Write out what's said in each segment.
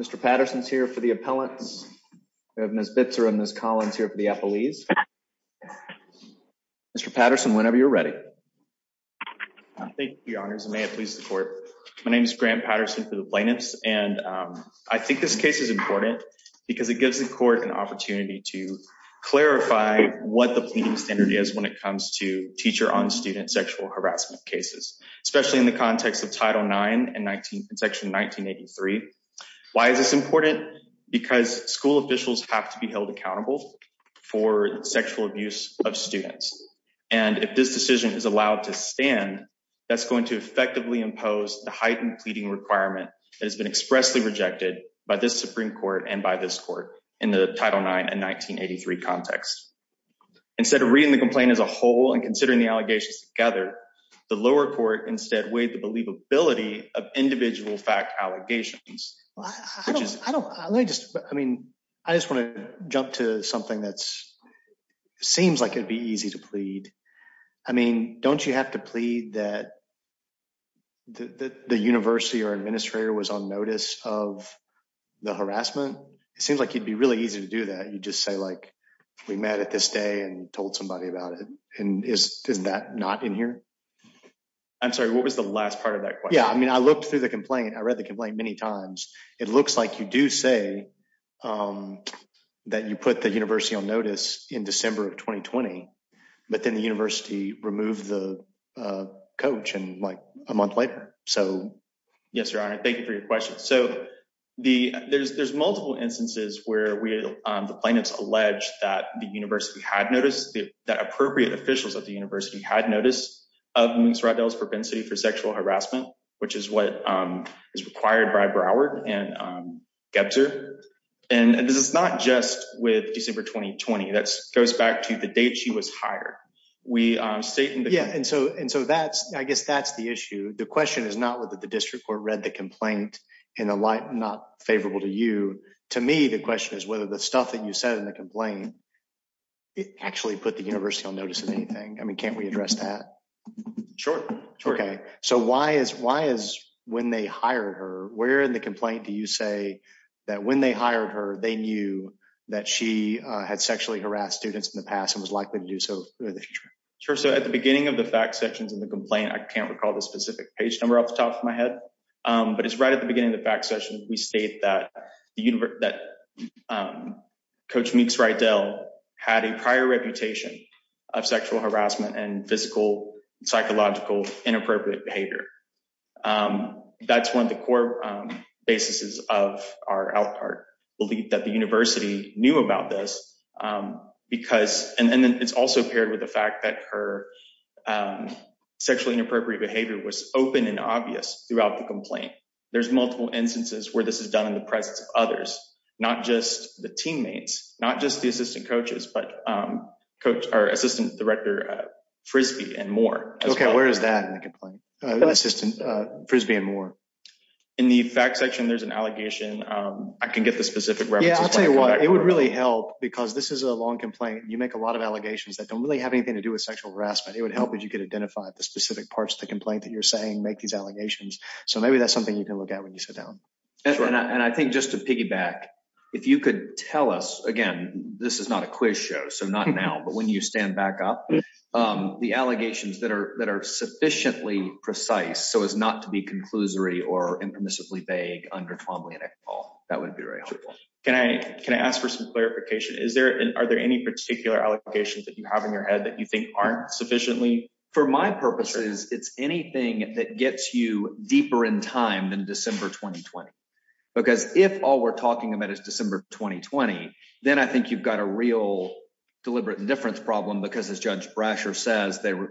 Mr. Patterson's here for the appellants. We have Ms. Bitzer and Ms. Collins here for the appellees. Mr. Patterson, whenever you're ready. Thank you, your honors, and may it please the court. My name is Grant Patterson for the plaintiffs, and I think this case is important because it gives the court an opportunity to clarify what the pleading standard is when it comes to teacher-on-student sexual harassment cases, especially in the context of Title IX and section 1983. Why is this important? Because school officials have to be held accountable for sexual abuse of students, and if this decision is allowed to stand, that's going to effectively impose the heightened pleading requirement that has been expressly rejected by this Supreme Court and by this court in the Title IX and 1983 context. Instead of reading the complaint as a whole and considering the allegations together, the lower court instead weighed the believability of individual fact allegations. I mean, I just want to jump to something that seems like it'd be easy to plead. I mean, don't you have to plead that the university or administrator was on notice of the harassment? It seems like it'd be really easy to do that. You just say, like, we met at this day and told somebody about it, and is that not in here? I'm sorry, what was the last part of that question? Yeah, I mean, I looked through the complaint. I read the complaint many times. It looks like you do say that you put the university on notice in December of 2020, but then the university removed the coach in, like, a month later. Yes, Your Honor, thank you for your question. So, there's multiple instances where the plaintiffs allege that the university had noticed, that appropriate officials at the university had noticed, of Ms. Roddell's propensity for sexual harassment, which is what is required by Broward and Gebzer. And this is not just with December 2020. That goes back to the date she was hired. Yeah, and so that's, I guess that's the issue. The question is not whether the district court read the complaint in a light not favorable to you. To me, the question is whether the stuff that you said in the complaint actually put the university on notice of anything. I mean, can't we address that? Sure. Okay, so why is when they hired her, where in the complaint do you say that when they hired her, they knew that she had sexually harassed students in the past and was likely to do so in the future? Sure, so at the beginning of the fact sections in the complaint, I can't recall the specific page number off the top of my head, but it's right at the beginning of the fact section, we state that Coach Meeks-Roddell had a prior reputation of sexual harassment and physical, psychological, inappropriate behavior. That's one of the core basis of our belief that the university knew about this because, and then it's also paired with the fact that her sexually inappropriate behavior was open and obvious throughout the complaint. There's multiple instances where this is done in the presence of others, not just the teammates, not just the assistant coaches, but our assistant director Frisbee and more. Okay, where is that in the complaint? Frisbee and more. In the fact section, there's an allegation. I can get the specific reference. Yeah, I'll tell you what, it would really help because this is a long complaint. You make a lot of allegations that don't really have anything to do with sexual harassment. It would help if you could identify the specific parts of the complaint that you're saying make these allegations. So maybe that's something you can look at when you sit down. And I think just to piggyback, if you could tell us, again, this is not a quiz show, so not now, but when you stand back up, the allegations that are sufficiently precise so as not to be conclusory or impermissibly vague under Twombly and Eckball, that would be very helpful. Can I ask for some clarification? Are there any particular allegations that you have in your head that you think aren't sufficiently? For my purposes, it's anything that gets you deeper in time than December 2020. Because if all we're talking about is December 2020, then I think you've got a real deliberate indifference problem because, as Judge Brasher says, they were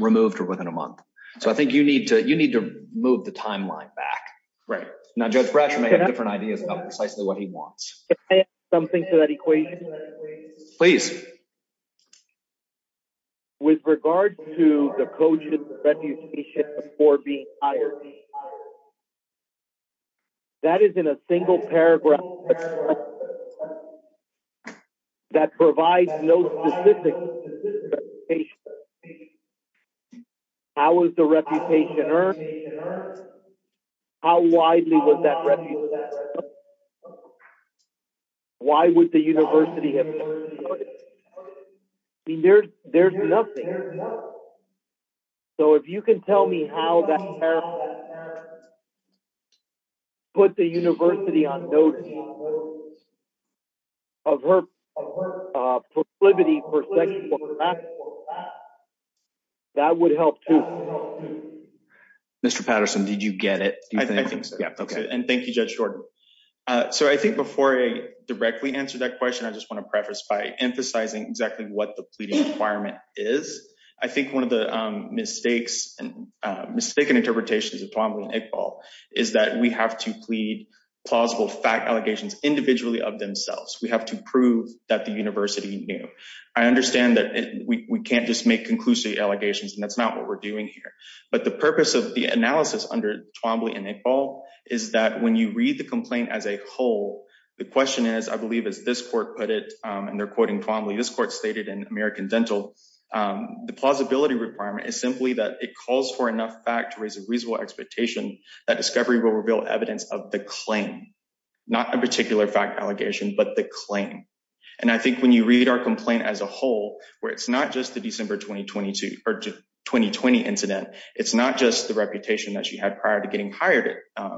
removed within a month. So I think you need to move the timeline back. Right. Now, Judge Brasher may have ideas about precisely what he wants. Can I add something to that equation? Please. With regard to the coach's reputation before being hired, that is in a single paragraph that provides no specific reputation. How was the reputation earned? How widely was that reputation? Why would the university have noted it? I mean, there's nothing. So if you can tell me how that parent put the university on notice of her proclivity for sexual harassment, that would help too. Mr. Patterson, did you get it? I think so. And thank you, Judge Jordan. So I think before I directly answer that question, I just want to preface by emphasizing exactly what the pleading requirement is. I think one of the mistakes and mistaken interpretations of Tuamal and Iqbal is that we have to plead plausible fact individually of themselves. We have to prove that the university knew. I understand that we can't just make conclusive allegations, and that's not what we're doing here. But the purpose of the analysis under Tuamal and Iqbal is that when you read the complaint as a whole, the question is, I believe, as this court put it, and they're quoting Tuamal, this court stated in American Dental, the plausibility requirement is simply that it calls for enough fact to raise a reasonable expectation that discovery will reveal evidence of the claim, not a particular fact allegation, but the claim. And I think when you read our complaint as a whole, where it's not just the December 2020 incident, it's not just the reputation that she had prior to getting hired at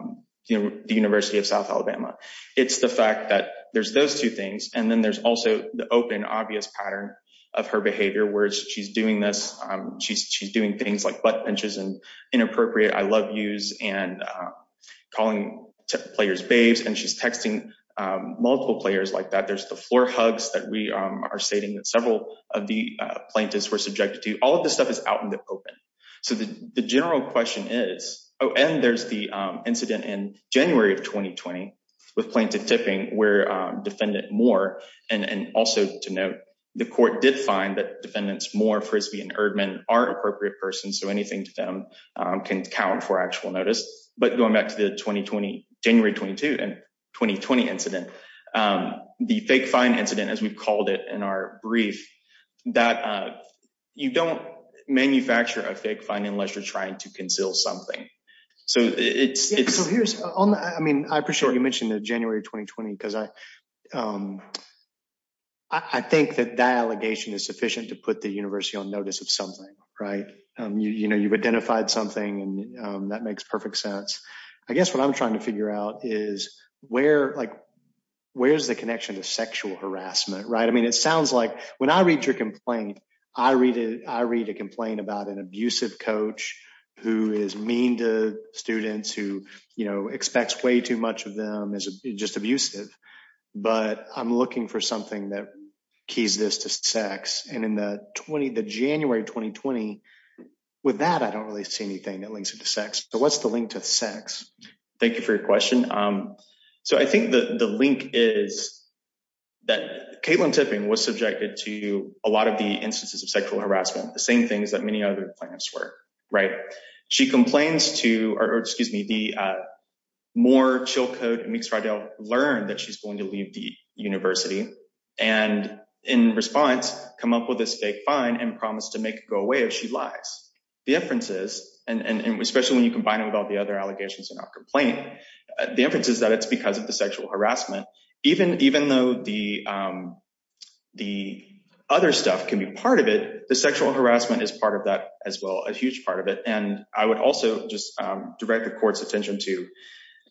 the University of South Alabama. It's the fact that there's those two things. And then there's also the open, obvious pattern of her behavior, where she's doing this. She's doing things like butt pinches and inappropriate I love yous and calling players babes, and she's texting multiple players like that. There's the floor hugs that we are stating that several of the plaintiffs were subjected to all of this stuff is out in the open. So the general question is, oh, and there's the incident in January of 2020, with plaintiff tipping where defendant Moore, and also to note, the court did find that defendants Moore, Frisbee and Erdman are appropriate persons. So anything to them can count for actual notice. But going back to the 2020 January 22 and 2020 incident, um, the fake fine incident, as we called it in our brief that, uh, you don't manufacture a fake fine unless you're trying to conceal something. So it's so here's on. I mean, I appreciate you mentioned the January 2020 because I, um, I think that that allegation is sufficient to put the university on notice of something, right? You know, you've identified something, and, um, that makes perfect sense. I guess what I'm trying to figure out is where, like, where's the connection to sexual harassment, right? I mean, it sounds like when I read your complaint, I read it. I read a complaint about an abusive coach who is mean to students who, you know, expects way too much of them is just abusive. But I'm looking for something that keys this to sex. And in the 20 the January 2020 with that, I don't really see anything that links into sex. So what's the link to sex? Thank you for your question. Um, so I think the link is that Caitlin tipping was subjected to a lot of the instances of sexual harassment. The same things that many other plans were right. She complains to or excuse me, the, uh, more chill code makes right to learn that she's going to leave the university and in response, come up with this fake fine and promise to make go away. If she lies, the inferences and especially when you combine it with all the other allegations in our complaint, the inferences that it's because of the sexual harassment, even even though the, um, the other stuff can be part of it. The sexual harassment is part of that as well. A huge part of it. And I would also just direct the court's attention to,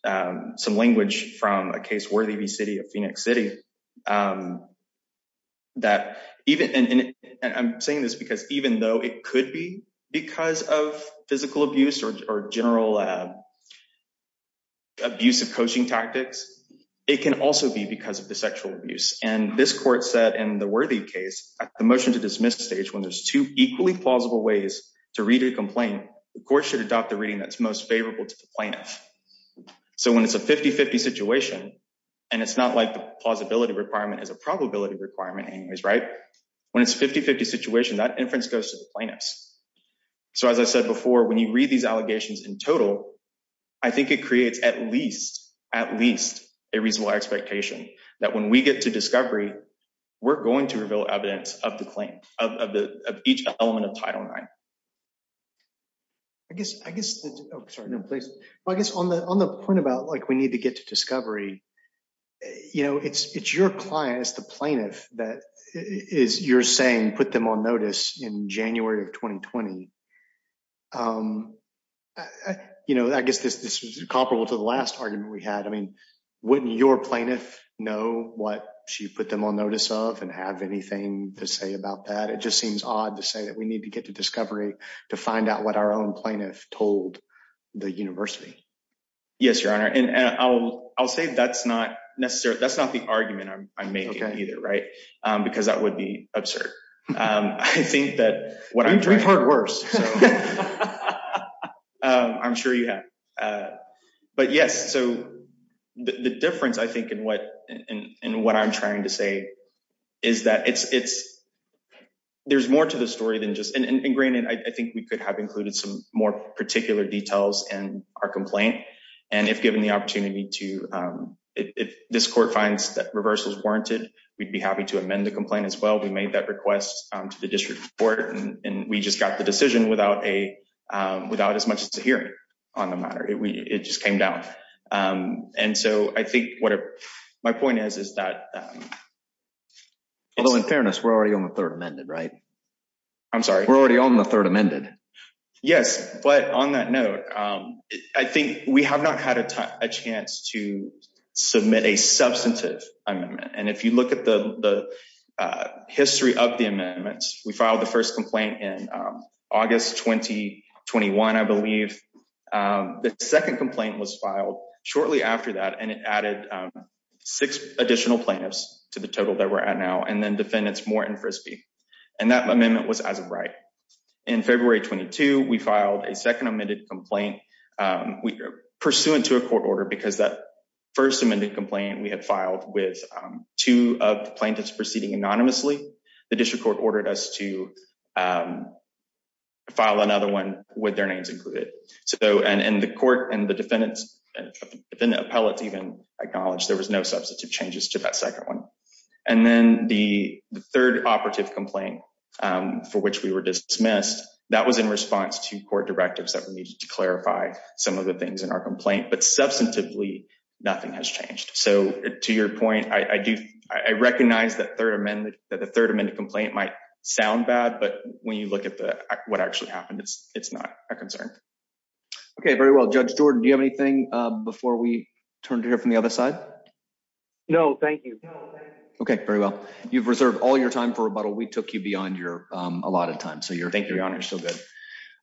um, some language from a case worthy of the city of phoenix city. Um, that even I'm saying this because even though it could be because of physical abuse or general, uh, abusive coaching tactics, it can also be because of the sexual abuse. And this court said in the worthy case, the motion to dismiss stage when there's two equally plausible ways to read a complaint, of course, should adopt the reading that's most favorable to the plaintiff. So when it's a 50 50 situation and it's not like the plausibility requirement is a probability requirement anyways, right? When it's 50 50 situation, that inference goes to the plaintiffs. So, as I said before, when you read these allegations in total, I think it creates at least at least a reasonable expectation that when we get to discovery, we're going to reveal evidence of the claim of each element of title nine. I guess. I guess. Oh, sorry. No, please. I guess on the on the point about like we need to get to discovery, you know, it's it's your clients. The plaintiff that is you're saying put them on notice in January of 2020. Um, you know, I guess this this was comparable to the last argument we had. I mean, wouldn't your plaintiff know what she put them on notice of and have anything to say about that? It just seems odd to say that we need to get to discovery to find out what our own plaintiff told the university. Yes, Your Honor. And I'll I'll say that's not necessary. That's not the argument I'm making either, right? Because that would be absurd. Um, I think that what I've heard worse, I'm sure you have. Uh, but yes. So the difference, I think, in what and what I'm trying to say is that it's it's there's more to the story than just ingrained. And I think we could have included some more particular details in our complaint. And if given the opportunity to, um, if this court finds that reversals warranted, we'd be happy to amend the complaint as well. We made that request to the district court, and we just got the decision without a without as much as a hearing on the matter. It just came down. Um, and so I think what my point is, is that although in fairness, we're already on the third amended, right? I'm sorry. We're already on the third amended. Yes. But on that note, I think we have not had a chance to submit a substantive. And if you look at the history of the amendments, we filed the first complaint in August 2021. I believe the second complaint was filed shortly after that, and it added six additional plaintiffs to the total that we're at now and then defendants more in Frisbee. And that amendment was as a right. In February 22, we filed a second amended complaint pursuant to a court order because that first amended complaint we had filed with two of the plaintiffs proceeding anonymously. The district court ordered us to, um, file another one with their names included. So and the court and the defendants and the appellate even acknowledged there was no substantive changes to that second one. And then the third operative complaint for which we were dismissed that was in response to court directives that we needed to clarify some of the things in our complaint. But substantively, nothing has changed. So to your point, I do. I recognize that third amendment that the third amendment complaint might sound bad. But when you look at what actually happened, it's not a concern. Okay, very well. Judge Jordan, do you have anything before we turn to hear from the other side? No, thank you. Okay, very well. You've reserved all your time for a bottle. We took you beyond your a lot of time. So you're thank you, Your Honor. So good.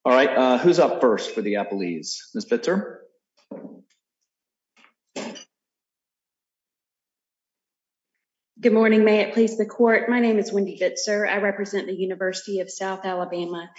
All right. Who's up first for the Apple ease? Miss Pitzer. Good morning. May it please the court. My name is Wendy. But, sir, I represent the University of South Alabama,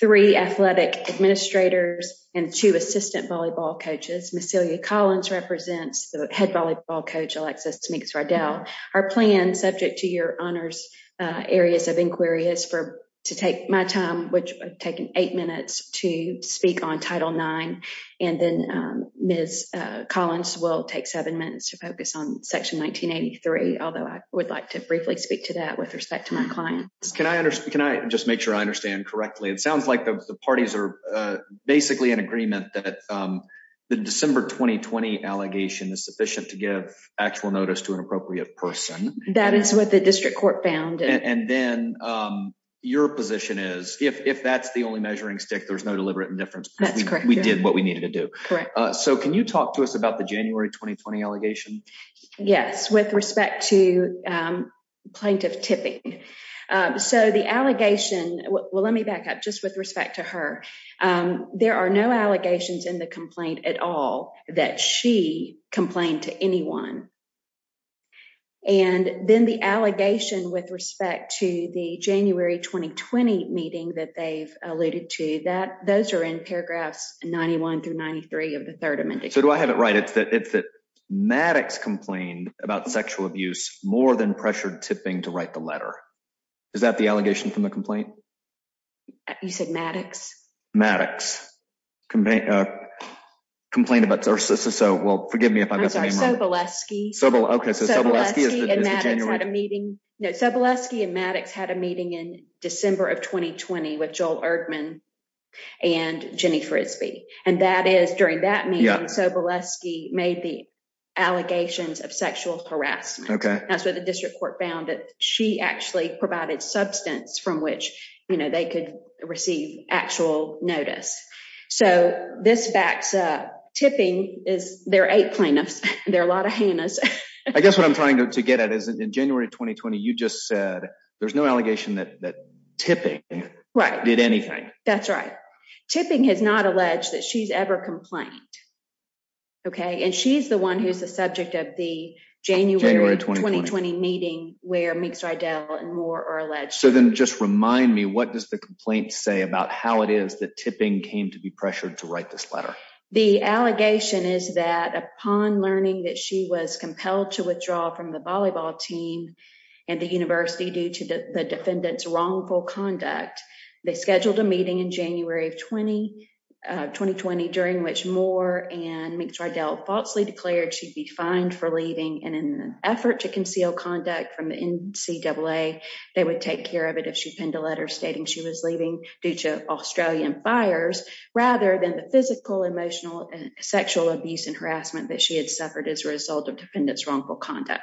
three athletic administrators and two assistant volleyball coaches. Miss Celia Collins represents the head volleyball coach Alexis to make us right down our plan subject to your honors. Areas of inquiry is for to take my time, which taken eight minutes to speak on Title nine. And then, um, Miss Collins will take seven minutes to focus on section 1983. Although I would like to briefly speak to that with respect to my clients. Can I understand? Can I just make sure I understand correctly? It sounds like the parties are basically in agreement that the December 2020 allegation is sufficient to give actual notice to an appropriate person. That is what the district court found. And then, um, your position is if that's the only measuring stick, there's no deliberate indifference. That's correct. We did what we needed to do. So can you talk to us about the January 2020 allegation? Yes, with respect to, um, plaintiff tipping. So the allegation, well, let me back up just with respect to her. Um, there are no allegations in the complaint at all that she complained to anyone. And then the allegation with respect to the January 2020 meeting that they've alluded to that those air in paragraphs 91 through 93 of the third amendment. So do I have it right? It's that it's that Maddox complained about sexual abuse more than pressured tipping to write the letter. Is that the allegation from the complaint? You said Maddox Maddox, uh, complained about. So well, forgive me if I'm sorry, Sobolewski. Sobolewski and Maddox had a meeting. Sobolewski and Maddox had a meeting in December of 2020 with Joel Erdmann and Jenny Frisbee. And that is during that meeting, Sobolewski made the allegations of sexual harassment. That's where the district court found that she actually provided substance from which, you know, they could receive actual notice. So this backs up tipping is there eight plaintiffs. There are a lot of Hannah's. I guess what I'm trying to get at is in January 2020. You just said there's no allegation that tipping did anything. That's right. Tipping has not alleged that she's ever complained. Okay. And she's the one who's the subject of the January 2020 meeting where makes right down and more or alleged. So then just remind me, what does the complaint say about how it is that tipping came to be pressured to write this letter? The allegation is that upon learning that she was compelled to withdraw from the volleyball team and the university due to the defendant's wrongful conduct, they scheduled a meeting in January of 2020 2020 during which more and makes right down falsely declared she'd be in an effort to conceal conduct from the N. C. Double A. They would take care of it if she penned a letter stating she was leaving due to Australian fires rather than the physical, emotional and sexual abuse and harassment that she had suffered as a result of defendants wrongful conduct.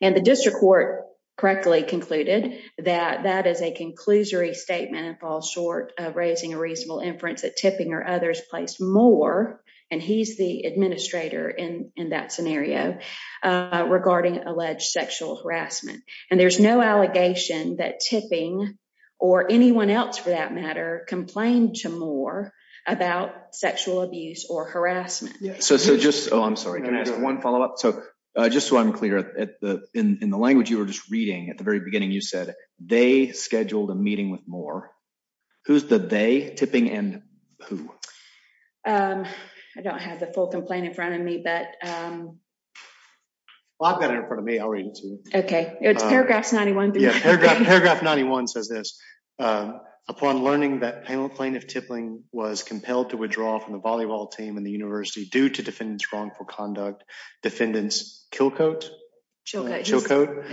And the district court correctly concluded that that is a conclusory statement and falls short of raising a reasonable inference that tipping or others placed more. And he's the administrator in that scenario regarding alleged sexual harassment. And there's no allegation that tipping or anyone else for that matter complained to more about sexual abuse or harassment. So just I'm sorry, I'm gonna ask one follow up. So just so I'm clear at the in the language you were just reading at the very beginning, you said they scheduled a meeting with more. Who's the day tipping and who? Um, I don't have the full complaint in front of me, but, um, I've got it in front of me. I'll read it to you. Okay. It's paragraphs 91 paragraph. Paragraph 91 says this. Um, upon learning that panel plaintiff tippling was compelled to withdraw from the volleyball team in the university due to defendants wrongful conduct. Defendants kill coat, chill coat,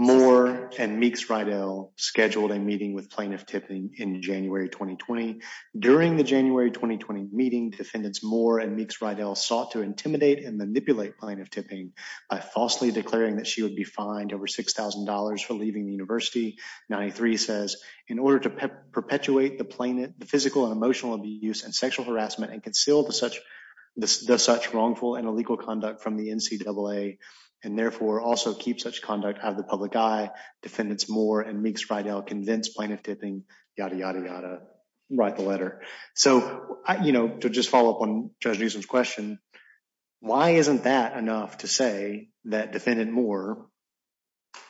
more and makes right L scheduled a meeting with plaintiff tipping in January 2020. During the January 2020 meeting, defendants more and makes right L sought to intimidate and manipulate plaintiff tipping by falsely declaring that she would be fined over $6,000 for leaving the university. 93 says in order to perpetuate the planet, the physical and emotional abuse and sexual harassment and concealed to such the such wrongful and illegal conduct from the N C double A and therefore also keep such conduct out of the public eye. Defendants more and makes right L convinced plaintiff tipping. Yada, yada, yada. Write the letter. So, you know, to just follow up on Judge Newsom's question. Why isn't that enough to say that defendant more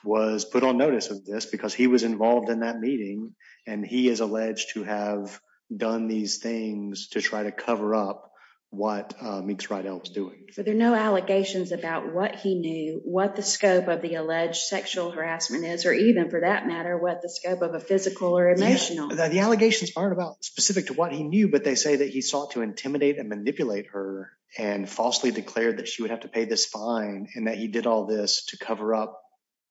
was put on notice of this because he was involved in that meeting and he is alleged to have done these things to try to cover up what makes right else doing. So there are no allegations about what he knew what the scope of the alleged sexual harassment is, or even for that matter, what the scope of physical or emotional. The allegations aren't about specific to what he knew, but they say that he sought to intimidate and manipulate her and falsely declared that she would have to pay this fine and that he did all this to cover up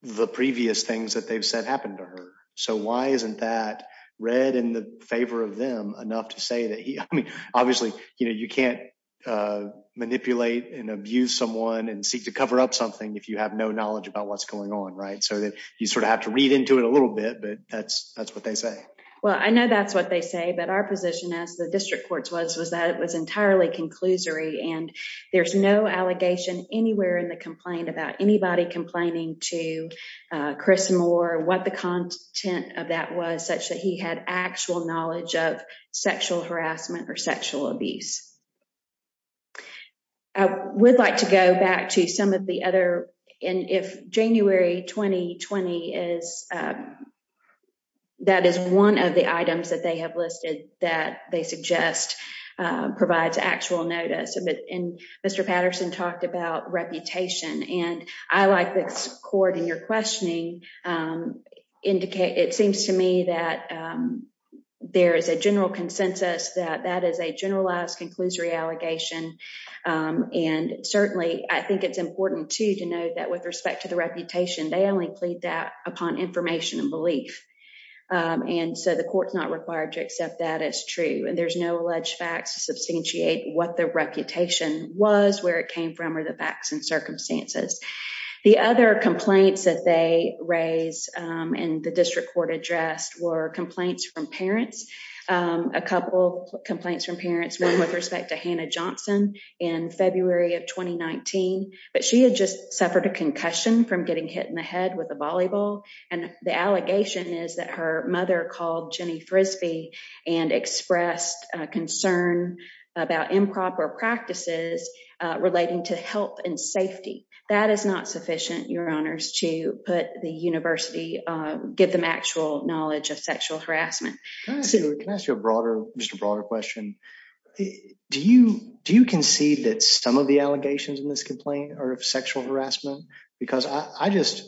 the previous things that they've said happened to her. So why isn't that red in the favor of them enough to say that? I mean, obviously, you know, you can't, uh, manipulate and abuse someone and seek to cover up something if you have no knowledge about what's going on, right? So you have to read into it a little bit, but that's that's what they say. Well, I know that's what they say, but our position as the district courts was was that it was entirely conclusory, and there's no allegation anywhere in the complaint about anybody complaining to Chris Moore what the content of that was such that he had actual knowledge of sexual harassment or sexual abuse. I would like to go back to some of the other and if January 2020 is, uh, that is one of the items that they have listed that they suggest provides actual notice of it. And Mr Patterson talked about reputation, and I like this court in your questioning. Um, indicate it seems to me that, um, there is a general consensus that that is a generalized conclusory allegation. Um, and certainly I think it's important to to know that with respect to the reputation, they only plead that upon information and belief. Um, and so the court's not required to accept that it's true, and there's no alleged facts to substantiate what the reputation was, where it came from, or the facts and circumstances. The other complaints that they raise in the district court addressed were complaints from parents. Um, a couple complaints from parents one with respect to Hannah Johnson in February of 2019, but she had just suffered a concussion from getting hit in the head with a volleyball. And the allegation is that her mother called Jenny Frisbee and expressed concern about improper practices relating to help and safety. That is not sufficient. Your honors to put the university, uh, give them actual knowledge of sexual harassment. Can I ask you a broader, just a broader question? Do you? Do you concede that some of the allegations in this complaint are of sexual harassment? Because I just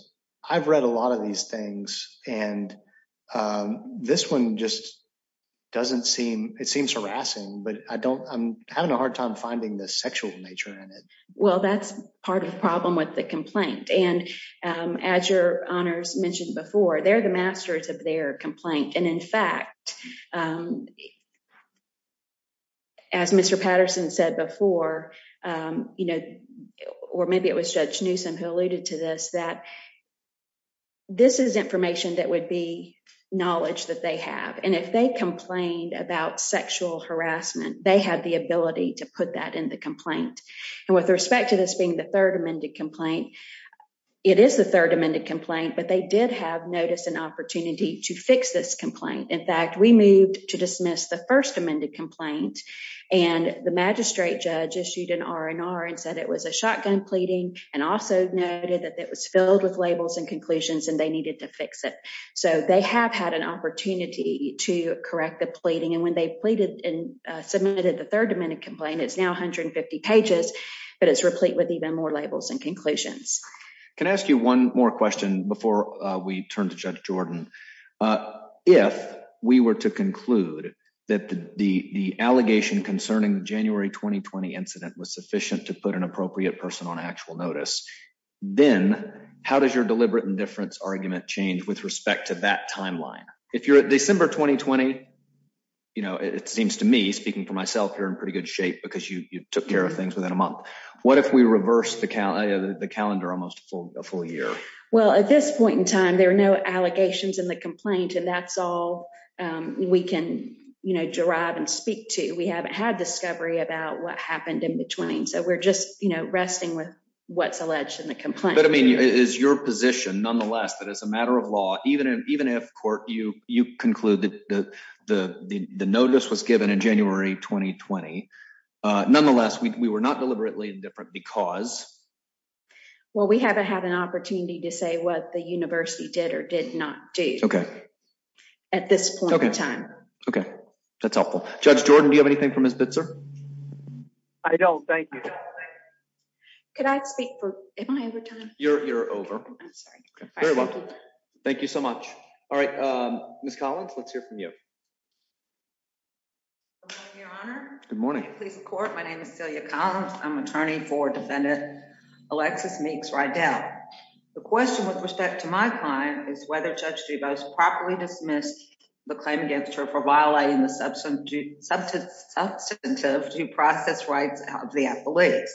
I've read a lot of these things and, um, this one just doesn't seem it seems harassing, but I don't. I'm having a hard time finding the sexual nature in it. Well, that's part of the problem with the complaint. And as your honors mentioned before, they're the masters of their complaint. And in fact, um, as Mr Patterson said before, um, you know, or maybe it was Judge Newsome who alluded to this, that this is information that would be knowledge that they have. And if they complained about sexual harassment, they had the ability to put that in the complaint. And with respect to this being the third amended complaint, it is the third amended complaint. But they did have notice an opportunity to fix this complaint. In fact, we moved to dismiss the first amended complaint and the magistrate judge issued an R. N. R. And said it was a shotgun pleading and also noted that it was filled with labels and conclusions and they needed to fix it. So they have had an opportunity to correct the pleading. And when they pleaded and submitted the third amendment complaint, it's now 150 pages, but it's replete with even more labels and conclusions. Can I ask you one more question before we turn to Judge Jordan? Uh, if we were to conclude that the the allegation concerning January 2020 incident was sufficient to put an appropriate person on actual notice, then how does your deliberate indifference argument change with respect to that timeline? If you're at December 2020, you know, it seems to me speaking for myself, you're in pretty good shape because you took care of things within a month. What if we reverse the calendar, the calendar almost a full year? Well, at this point in time, there are no allegations in the complaint, and that's all we can, you know, derive and speak to. We haven't had discovery about what happened in between. So we're just, you know, resting with what's alleged in the complaint. But I mean, is your position nonetheless that as a matter of law, even even if court you, you conclude that the notice was given in January 2020. Nonetheless, we were not deliberately different because, well, we haven't had an opportunity to say what the university did or did not do at this point in time. Okay, that's helpful. Judge Jordan, do you have anything from his bits, sir? I don't. Thank you. Could I speak for? Am I over you're over? Thank you so much. All right, Miss Collins, let's hear from you. Good morning. Please support. My name is Celia Collins. I'm attorney for defendant Alexis makes right down. The question with respect to my client is whether Judge Duvall's properly dismissed the claim against her for violating the substance substance substantive due process rights of the police.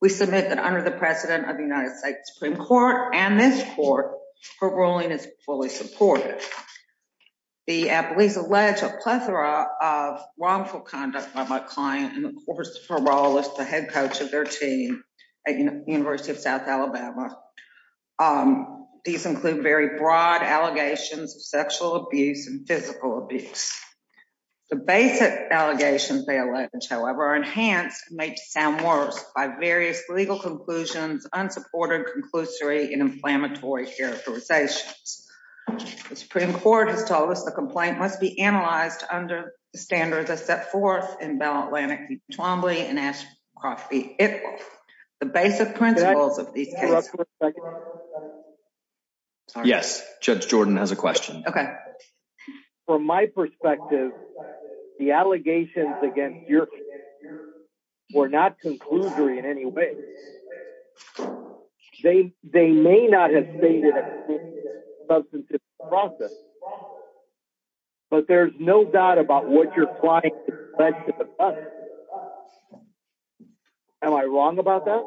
We submit that under the precedent of the United States Supreme Court and this court, her ruling is fully supported. The police allege a plethora of wrongful conduct by my client. And of course, parole is the head coach of their team at University of South Alabama. Um, these include very broad allegations of sexual abuse and physical abuse. The basic allegations they allege, however, enhanced make sound worse by various legal conclusions, unsupported, conclusory and inflammatory characterizations. The Supreme Court has told us the complaint must be analyzed under the standards that set forth in Bell Atlantic, Trombley and Ashcroft be it. The basic principles of these yes, Judge Jordan has a question. Okay, from my perspective, the allegations against your we're not conclusory in any way. They they may not have stated substantive process, but there's no doubt about what you're flying. Am I wrong about that?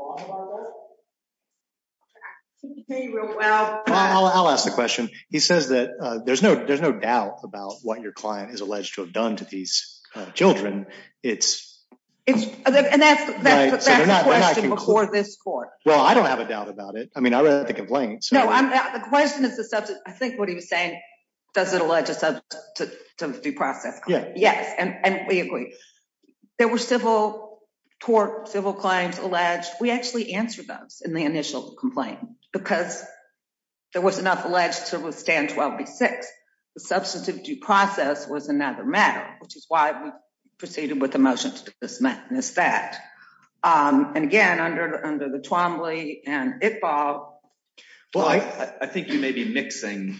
Well, I'll ask the question. He says that there's no there's no doubt about what your client is alleged to have done to these Children. It's it's and that's the question before this court. Well, I don't have a doubt about it. I mean, I think I'm playing. No, I'm not. The question is the subject. I think what he was saying. Does it allege a subject to the due process? Yes. And we agree there were civil tort civil claims alleged. We actually answered those in the initial complaint because there was enough alleged to withstand six. Substantive due process was another matter, which is why we proceeded with the motion to dismiss that. Um, and again, under under the Trombley and it Bob, I think you may be mixing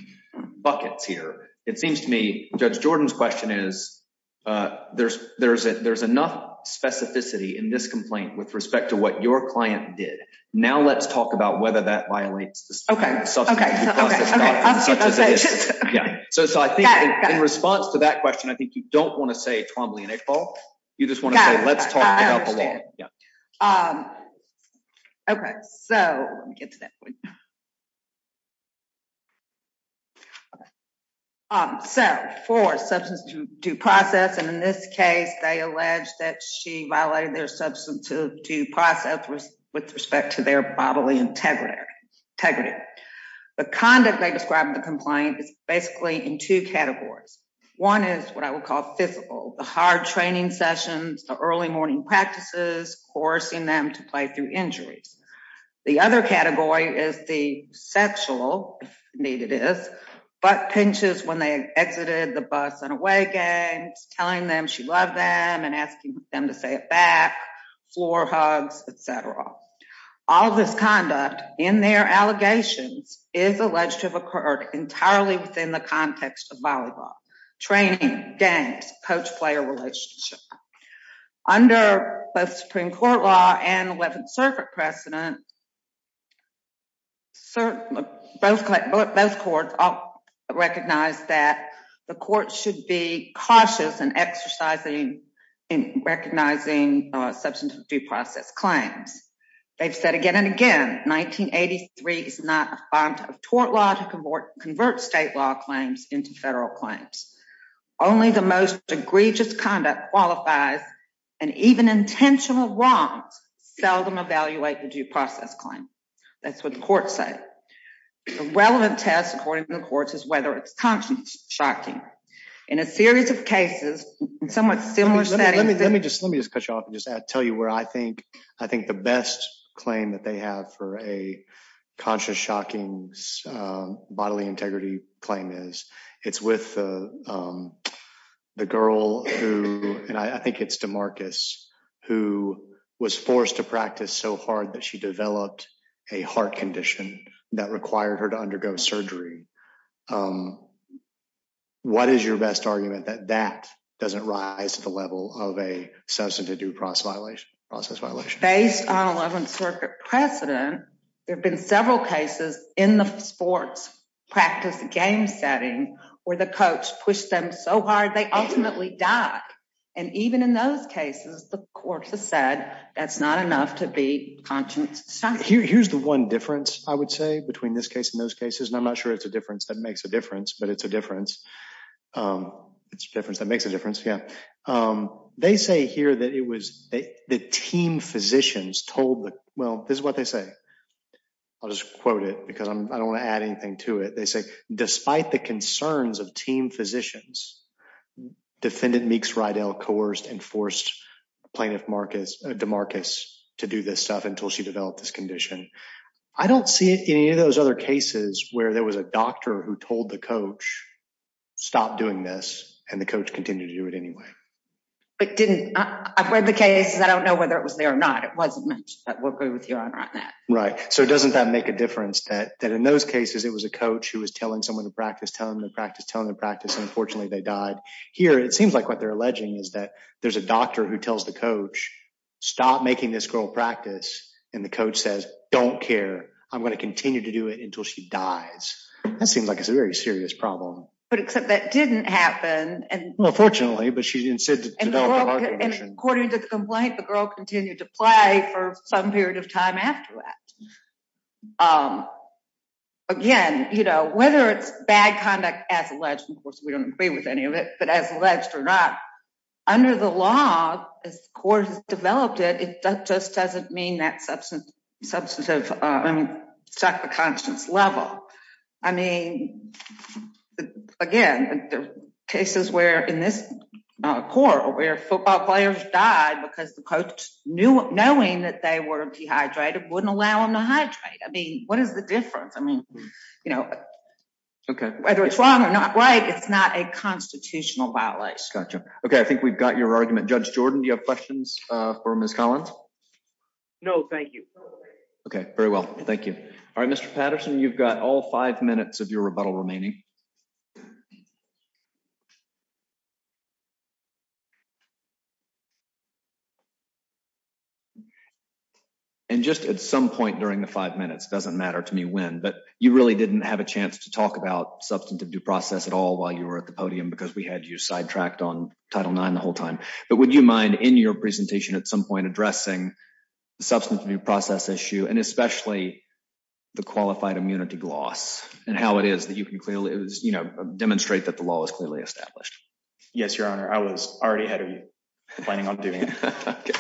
buckets here. It seems to me Judge Jordan's question is, uh, there's there's there's enough specificity in this complaint with respect to what your client did. Now let's talk about whether that violates. Okay. Okay. Okay. Yeah. So I think in response to that question, I think you don't want to say Trombley and a fall. You just want to say let's talk about the law. Yeah. Um, okay. So let me get to that point. Okay. Um, so for substance to due process and in this case, they alleged that she violated their substantive due process with respect to their bodily integrity. Integrity. The conduct they described the complaint is basically in two categories. One is what I would call physical, the hard training sessions, the early morning practices, forcing them to play through injuries. The other category is the sexual need. It is, but pinches when they exited the bus and away games, telling them she loved them and asking them to say it floor hugs, etcetera. All this conduct in their allegations is alleged to have occurred entirely within the context of volleyball training games, coach player relationship under both Supreme Court law and 11th Circuit precedent. Sir, both both courts recognized that the court should be cautious and exercising in recognizing substance due process claims. They've said again and again, 1983 is not a font of tort law to convert state law claims into federal claims. Only the most egregious conduct qualifies and even intentional wrongs seldom evaluate the due process claim. That's what the court said. Relevant test, according to the courts, is whether it's conscious shocking in a series of cases somewhat similar setting. Let me just let me just cut you off and just tell you where I think I think the best claim that they have for a conscious shocking bodily integrity claim is. It's with, um, the girl who and I think it's DeMarcus who was forced to practice so hard that she developed a heart condition that required her to undergo surgery. Um, what is your best argument that that doesn't rise to the level of a substantive due process violation process violation based on 11th Circuit precedent? There have been several cases in the sports practice game setting where the coach pushed them so hard they ultimately died. And even in those cases, the court has said that's not enough to be conscious. Here's the one difference, I would say, between this case in those cases, and I'm not sure it's a difference that makes a difference, but it's a difference. Um, it's a difference that makes a difference. Yeah. Um, they say here that it was the team physicians told. Well, this is what they say. I'll just quote it because I don't want to add anything to it. They say, despite the concerns of team physicians, defendant Meeks Rydell coerced and forced plaintiff Marcus DeMarcus to do this stuff until she developed this condition. I don't see it in any of those other cases where there was a doctor who told the coach stop doing this, and the coach continued to do it anyway. It didn't. I've read the cases. I don't know whether it was there or not. It wasn't mentioned that we'll be with you on that, right? So it doesn't that make a difference that that in those cases it was a coach who was telling someone to practice, telling the practice, telling the practice. Unfortunately, they died here. It seems like what they're alleging is that there's a doctor who tells the coach stop making this girl practice and the coach says don't care. I'm going to continue to do it until she dies. That seems like it's a very serious problem. But except that didn't happen. And unfortunately, but she insisted, according to the complaint, the girl continued to play for some period of time after that. Um, again, you know, whether it's bad conduct as alleged, of course, we don't agree with any of it, but as alleged or not, under the law, as the court has developed it, it just doesn't mean that substance substantive. I mean, it's not the conscience level. I mean, again, the cases where in this court where football players died because the coach knew knowing that they were dehydrated wouldn't allow him to hydrate. I mean, what is the difference? I mean, you know, okay, whether it's wrong or not, right? It's not a constitutional violation. Gotcha. Okay. I think we've got your argument. Judge Jordan, do you have questions for Miss Collins? No, thank you. Okay, very well. Thank you. All right, Mr Patterson, you've got all five minutes of your rebuttal remaining. And just at some point during the five minutes doesn't matter to me when, but you really didn't have a chance to talk about substantive due process at all while you were at the podium because we had you sidetracked on Title nine the time. But would you mind in your presentation at some point addressing the substance of your process issue and especially the qualified immunity gloss and how it is that you can clearly demonstrate that the law is clearly established. Yes, Your Honor, I was already ahead of you planning on doing it.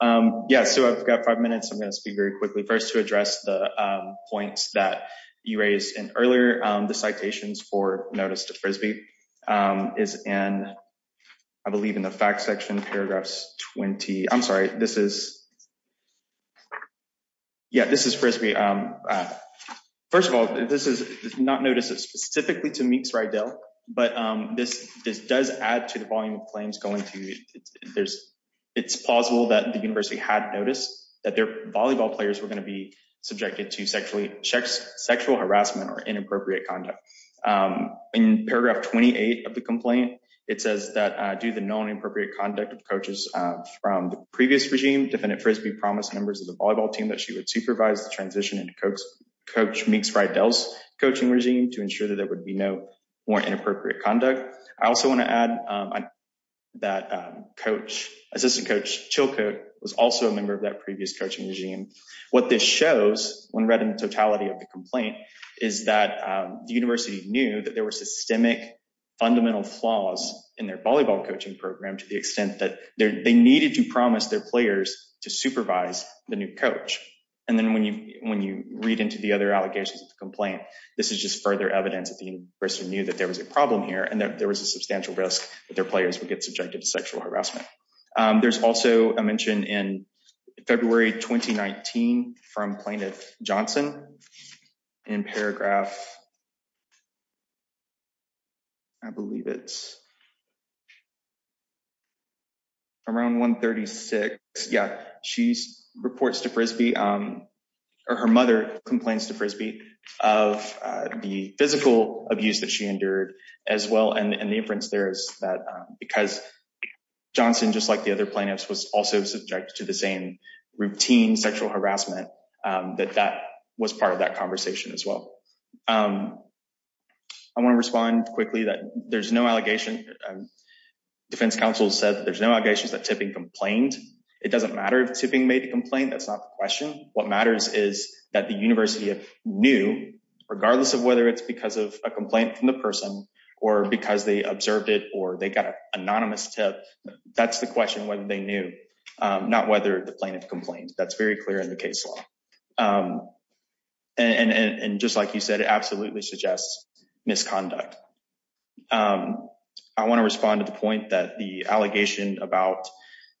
Um, yes. So I've got five minutes. I'm gonna speak very quickly first to address the points that you raised in earlier. The citations for notice to frisbee, um, is and I believe in the fact section paragraphs 20. I'm sorry. This is Yeah, this is frisbee. Um, first of all, this is not notice it specifically to meets right deal. But this does add to the volume of claims going to. There's it's plausible that the university had noticed that their volleyball players were going to be subjected to sexually checks, sexual harassment or inappropriate conduct. Um, in paragraph 28 of the complaint, it says that do the non appropriate conduct of coaches from the previous regime. Defendant frisbee promise members of the volleyball team that she would supervise the transition and coach coach makes right deals coaching regime to ensure that there would be no more inappropriate conduct. I also want to add, um, that coach assistant coach Chilco was also a member of that previous coaching regime. What this shows when read in totality of the is that the university knew that there were systemic fundamental flaws in their volleyball coaching program to the extent that they needed to promise their players to supervise the new coach. And then when you when you read into the other allegations of the complaint, this is just further evidence of the person knew that there was a problem here and that there was a substantial risk that their players would get subjected to sexual harassment. Um, there's also a mention in February 2019 from plaintiff Johnson in paragraph I believe it's around 1 36. Yeah, she's reports to frisbee. Um, or her mother complains to frisbee of the physical abuse that she endured as well. And the difference there is that because Johnson, just like the other plaintiffs, was also subjected to the same routine sexual harassment. Um, that that was part of that conversation as well. Um, I want to respond quickly that there's no allegation. Um, defense counsel said that there's no allegations that tipping complained. It doesn't matter if tipping made a complaint. That's not the question. What matters is that the university knew, regardless of whether it's because of a complaint from the person or because they observed it or they got anonymous tip. That's the question when they knew, um, not whether the plaintiff complains. That's very clear in the case law. Um, and and just like you said, it absolutely suggests misconduct. Um, I want to respond to the point that the allegation about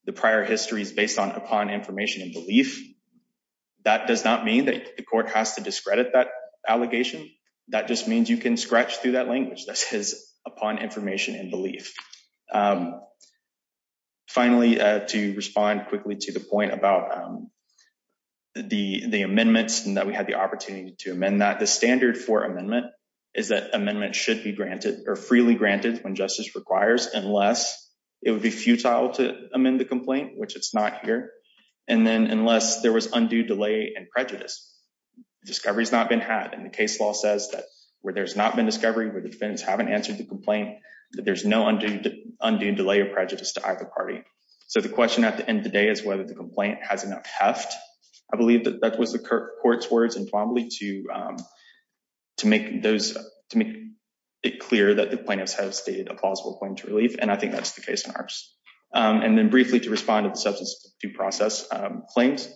the prior history is based on upon information and belief. That does not mean that the court has to discredit that allegation. That just means you can scratch through that language that says upon information and belief. Um, finally, to respond quickly to the point about, um, the amendments and that we had the opportunity to amend that the standard for amendment is that amendment should be granted or freely granted when justice requires. Unless it would be futile to amend the complaint, which it's not here. And then unless there was undue delay and prejudice discoveries not been had. And the case law says that where there's not been discovery where the defense haven't answered the complaint that there's no undue undue delay of prejudice to either party. So the question at the end of the day is whether the complaint has enough heft. I believe that that was the court's words and probably to, um, to make those to make it clear that the plaintiffs have stated a plausible claim to relief. And I think that's the case in ours. Um, and then briefly to respond to the substance due process claims.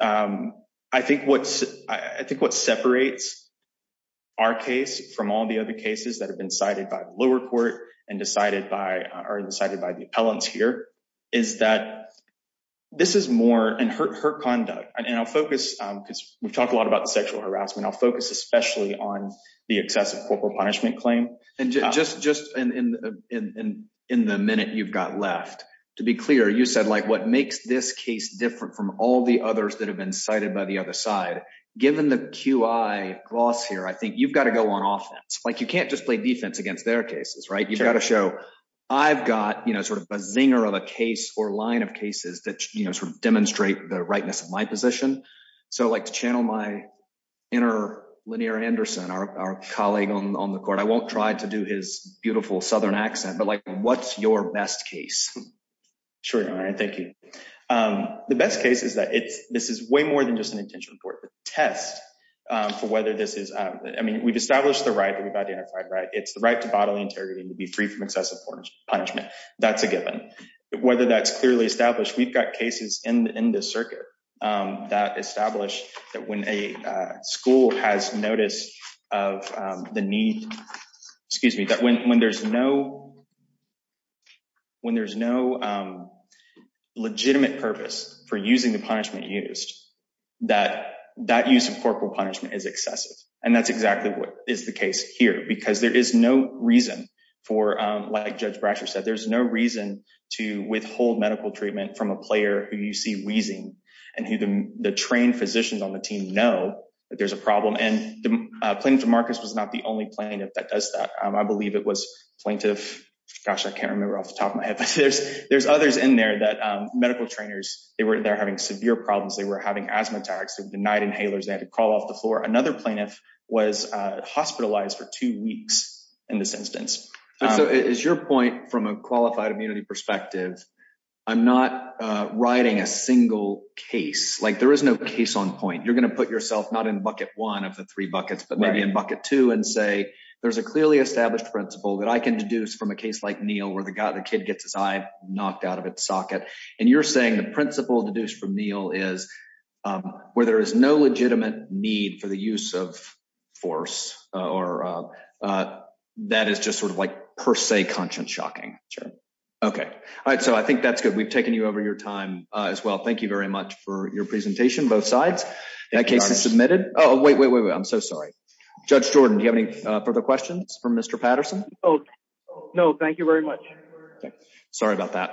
Um, I think what's I think what separates our case from all the other cases that have been cited by the lower court and decided by are decided by the appellants here is that this is more and hurt her conduct. And I'll focus because we've talked a lot about sexual harassment. I'll focus, especially on the excessive corporal punishment claim. And just just in the minute you've got left to be clear, you said, like, what makes this case different from all the others that have been cited by the other side? Given the Q. I gloss here, I think you've got to go on offense. Like, you can't just play defense against their cases, right? You've got to show I've got, you know, sort of a zinger of a case or line of cases that demonstrate the rightness of my position. So like to channel my inner linear Anderson, our colleague on the court, I won't try to do his beautiful southern accent. But like, what's your best case? Sure. All right. Thank you. Um, the best case is that it's this is way more than just an intention for the test for whether this is. I mean, we've established the right. We've identified, right? It's the right to bodily integrity to be free from excessive punishment. That's a given whether that's clearly established. We've got cases in the circuit that established that when a school has notice of the need, excuse me, that when there's no when there's no, um, legitimate purpose for using the punishment used that that use of corporal punishment is excessive. And that's exactly what is the case here. Because there is no reason for, like Judge Bratcher said, there's no reason to withhold medical treatment from a player who you see wheezing and who the trained physicians on the team know that there's a problem. And the plaintiff Marcus was not the only plaintiff that does that. I believe it was plaintiff. Gosh, I can't remember off the top of my head. But there's there's others in there that medical trainers. They were there having severe problems. They were having asthma attacks of denied inhalers. They had to call off the floor. Another plaintiff was hospitalized for two weeks in this instance. So is your point from a qualified immunity perspective? I'm not writing a single case like there is no case on point. You're gonna put yourself not in Bucket one of the three buckets, but maybe in Bucket two and say there's a clearly established principle that I can deduce from a case like Neil, where the guy the kid gets his eye knocked out of its socket. And you're saying the principle deduced from Neil is where there is no legitimate need for the use of force. Or, uh, that is just sort of, like, per se, conscience shocking. Sure. Okay. All right. So I think that's good. We've taken you over your time as well. Thank you very much for your presentation. Both sides. That case is submitted. Oh, wait, wait, wait. I'm so sorry. Judge Jordan, you for the questions from Mr Patterson. Oh, no. Thank you very much. Sorry about that.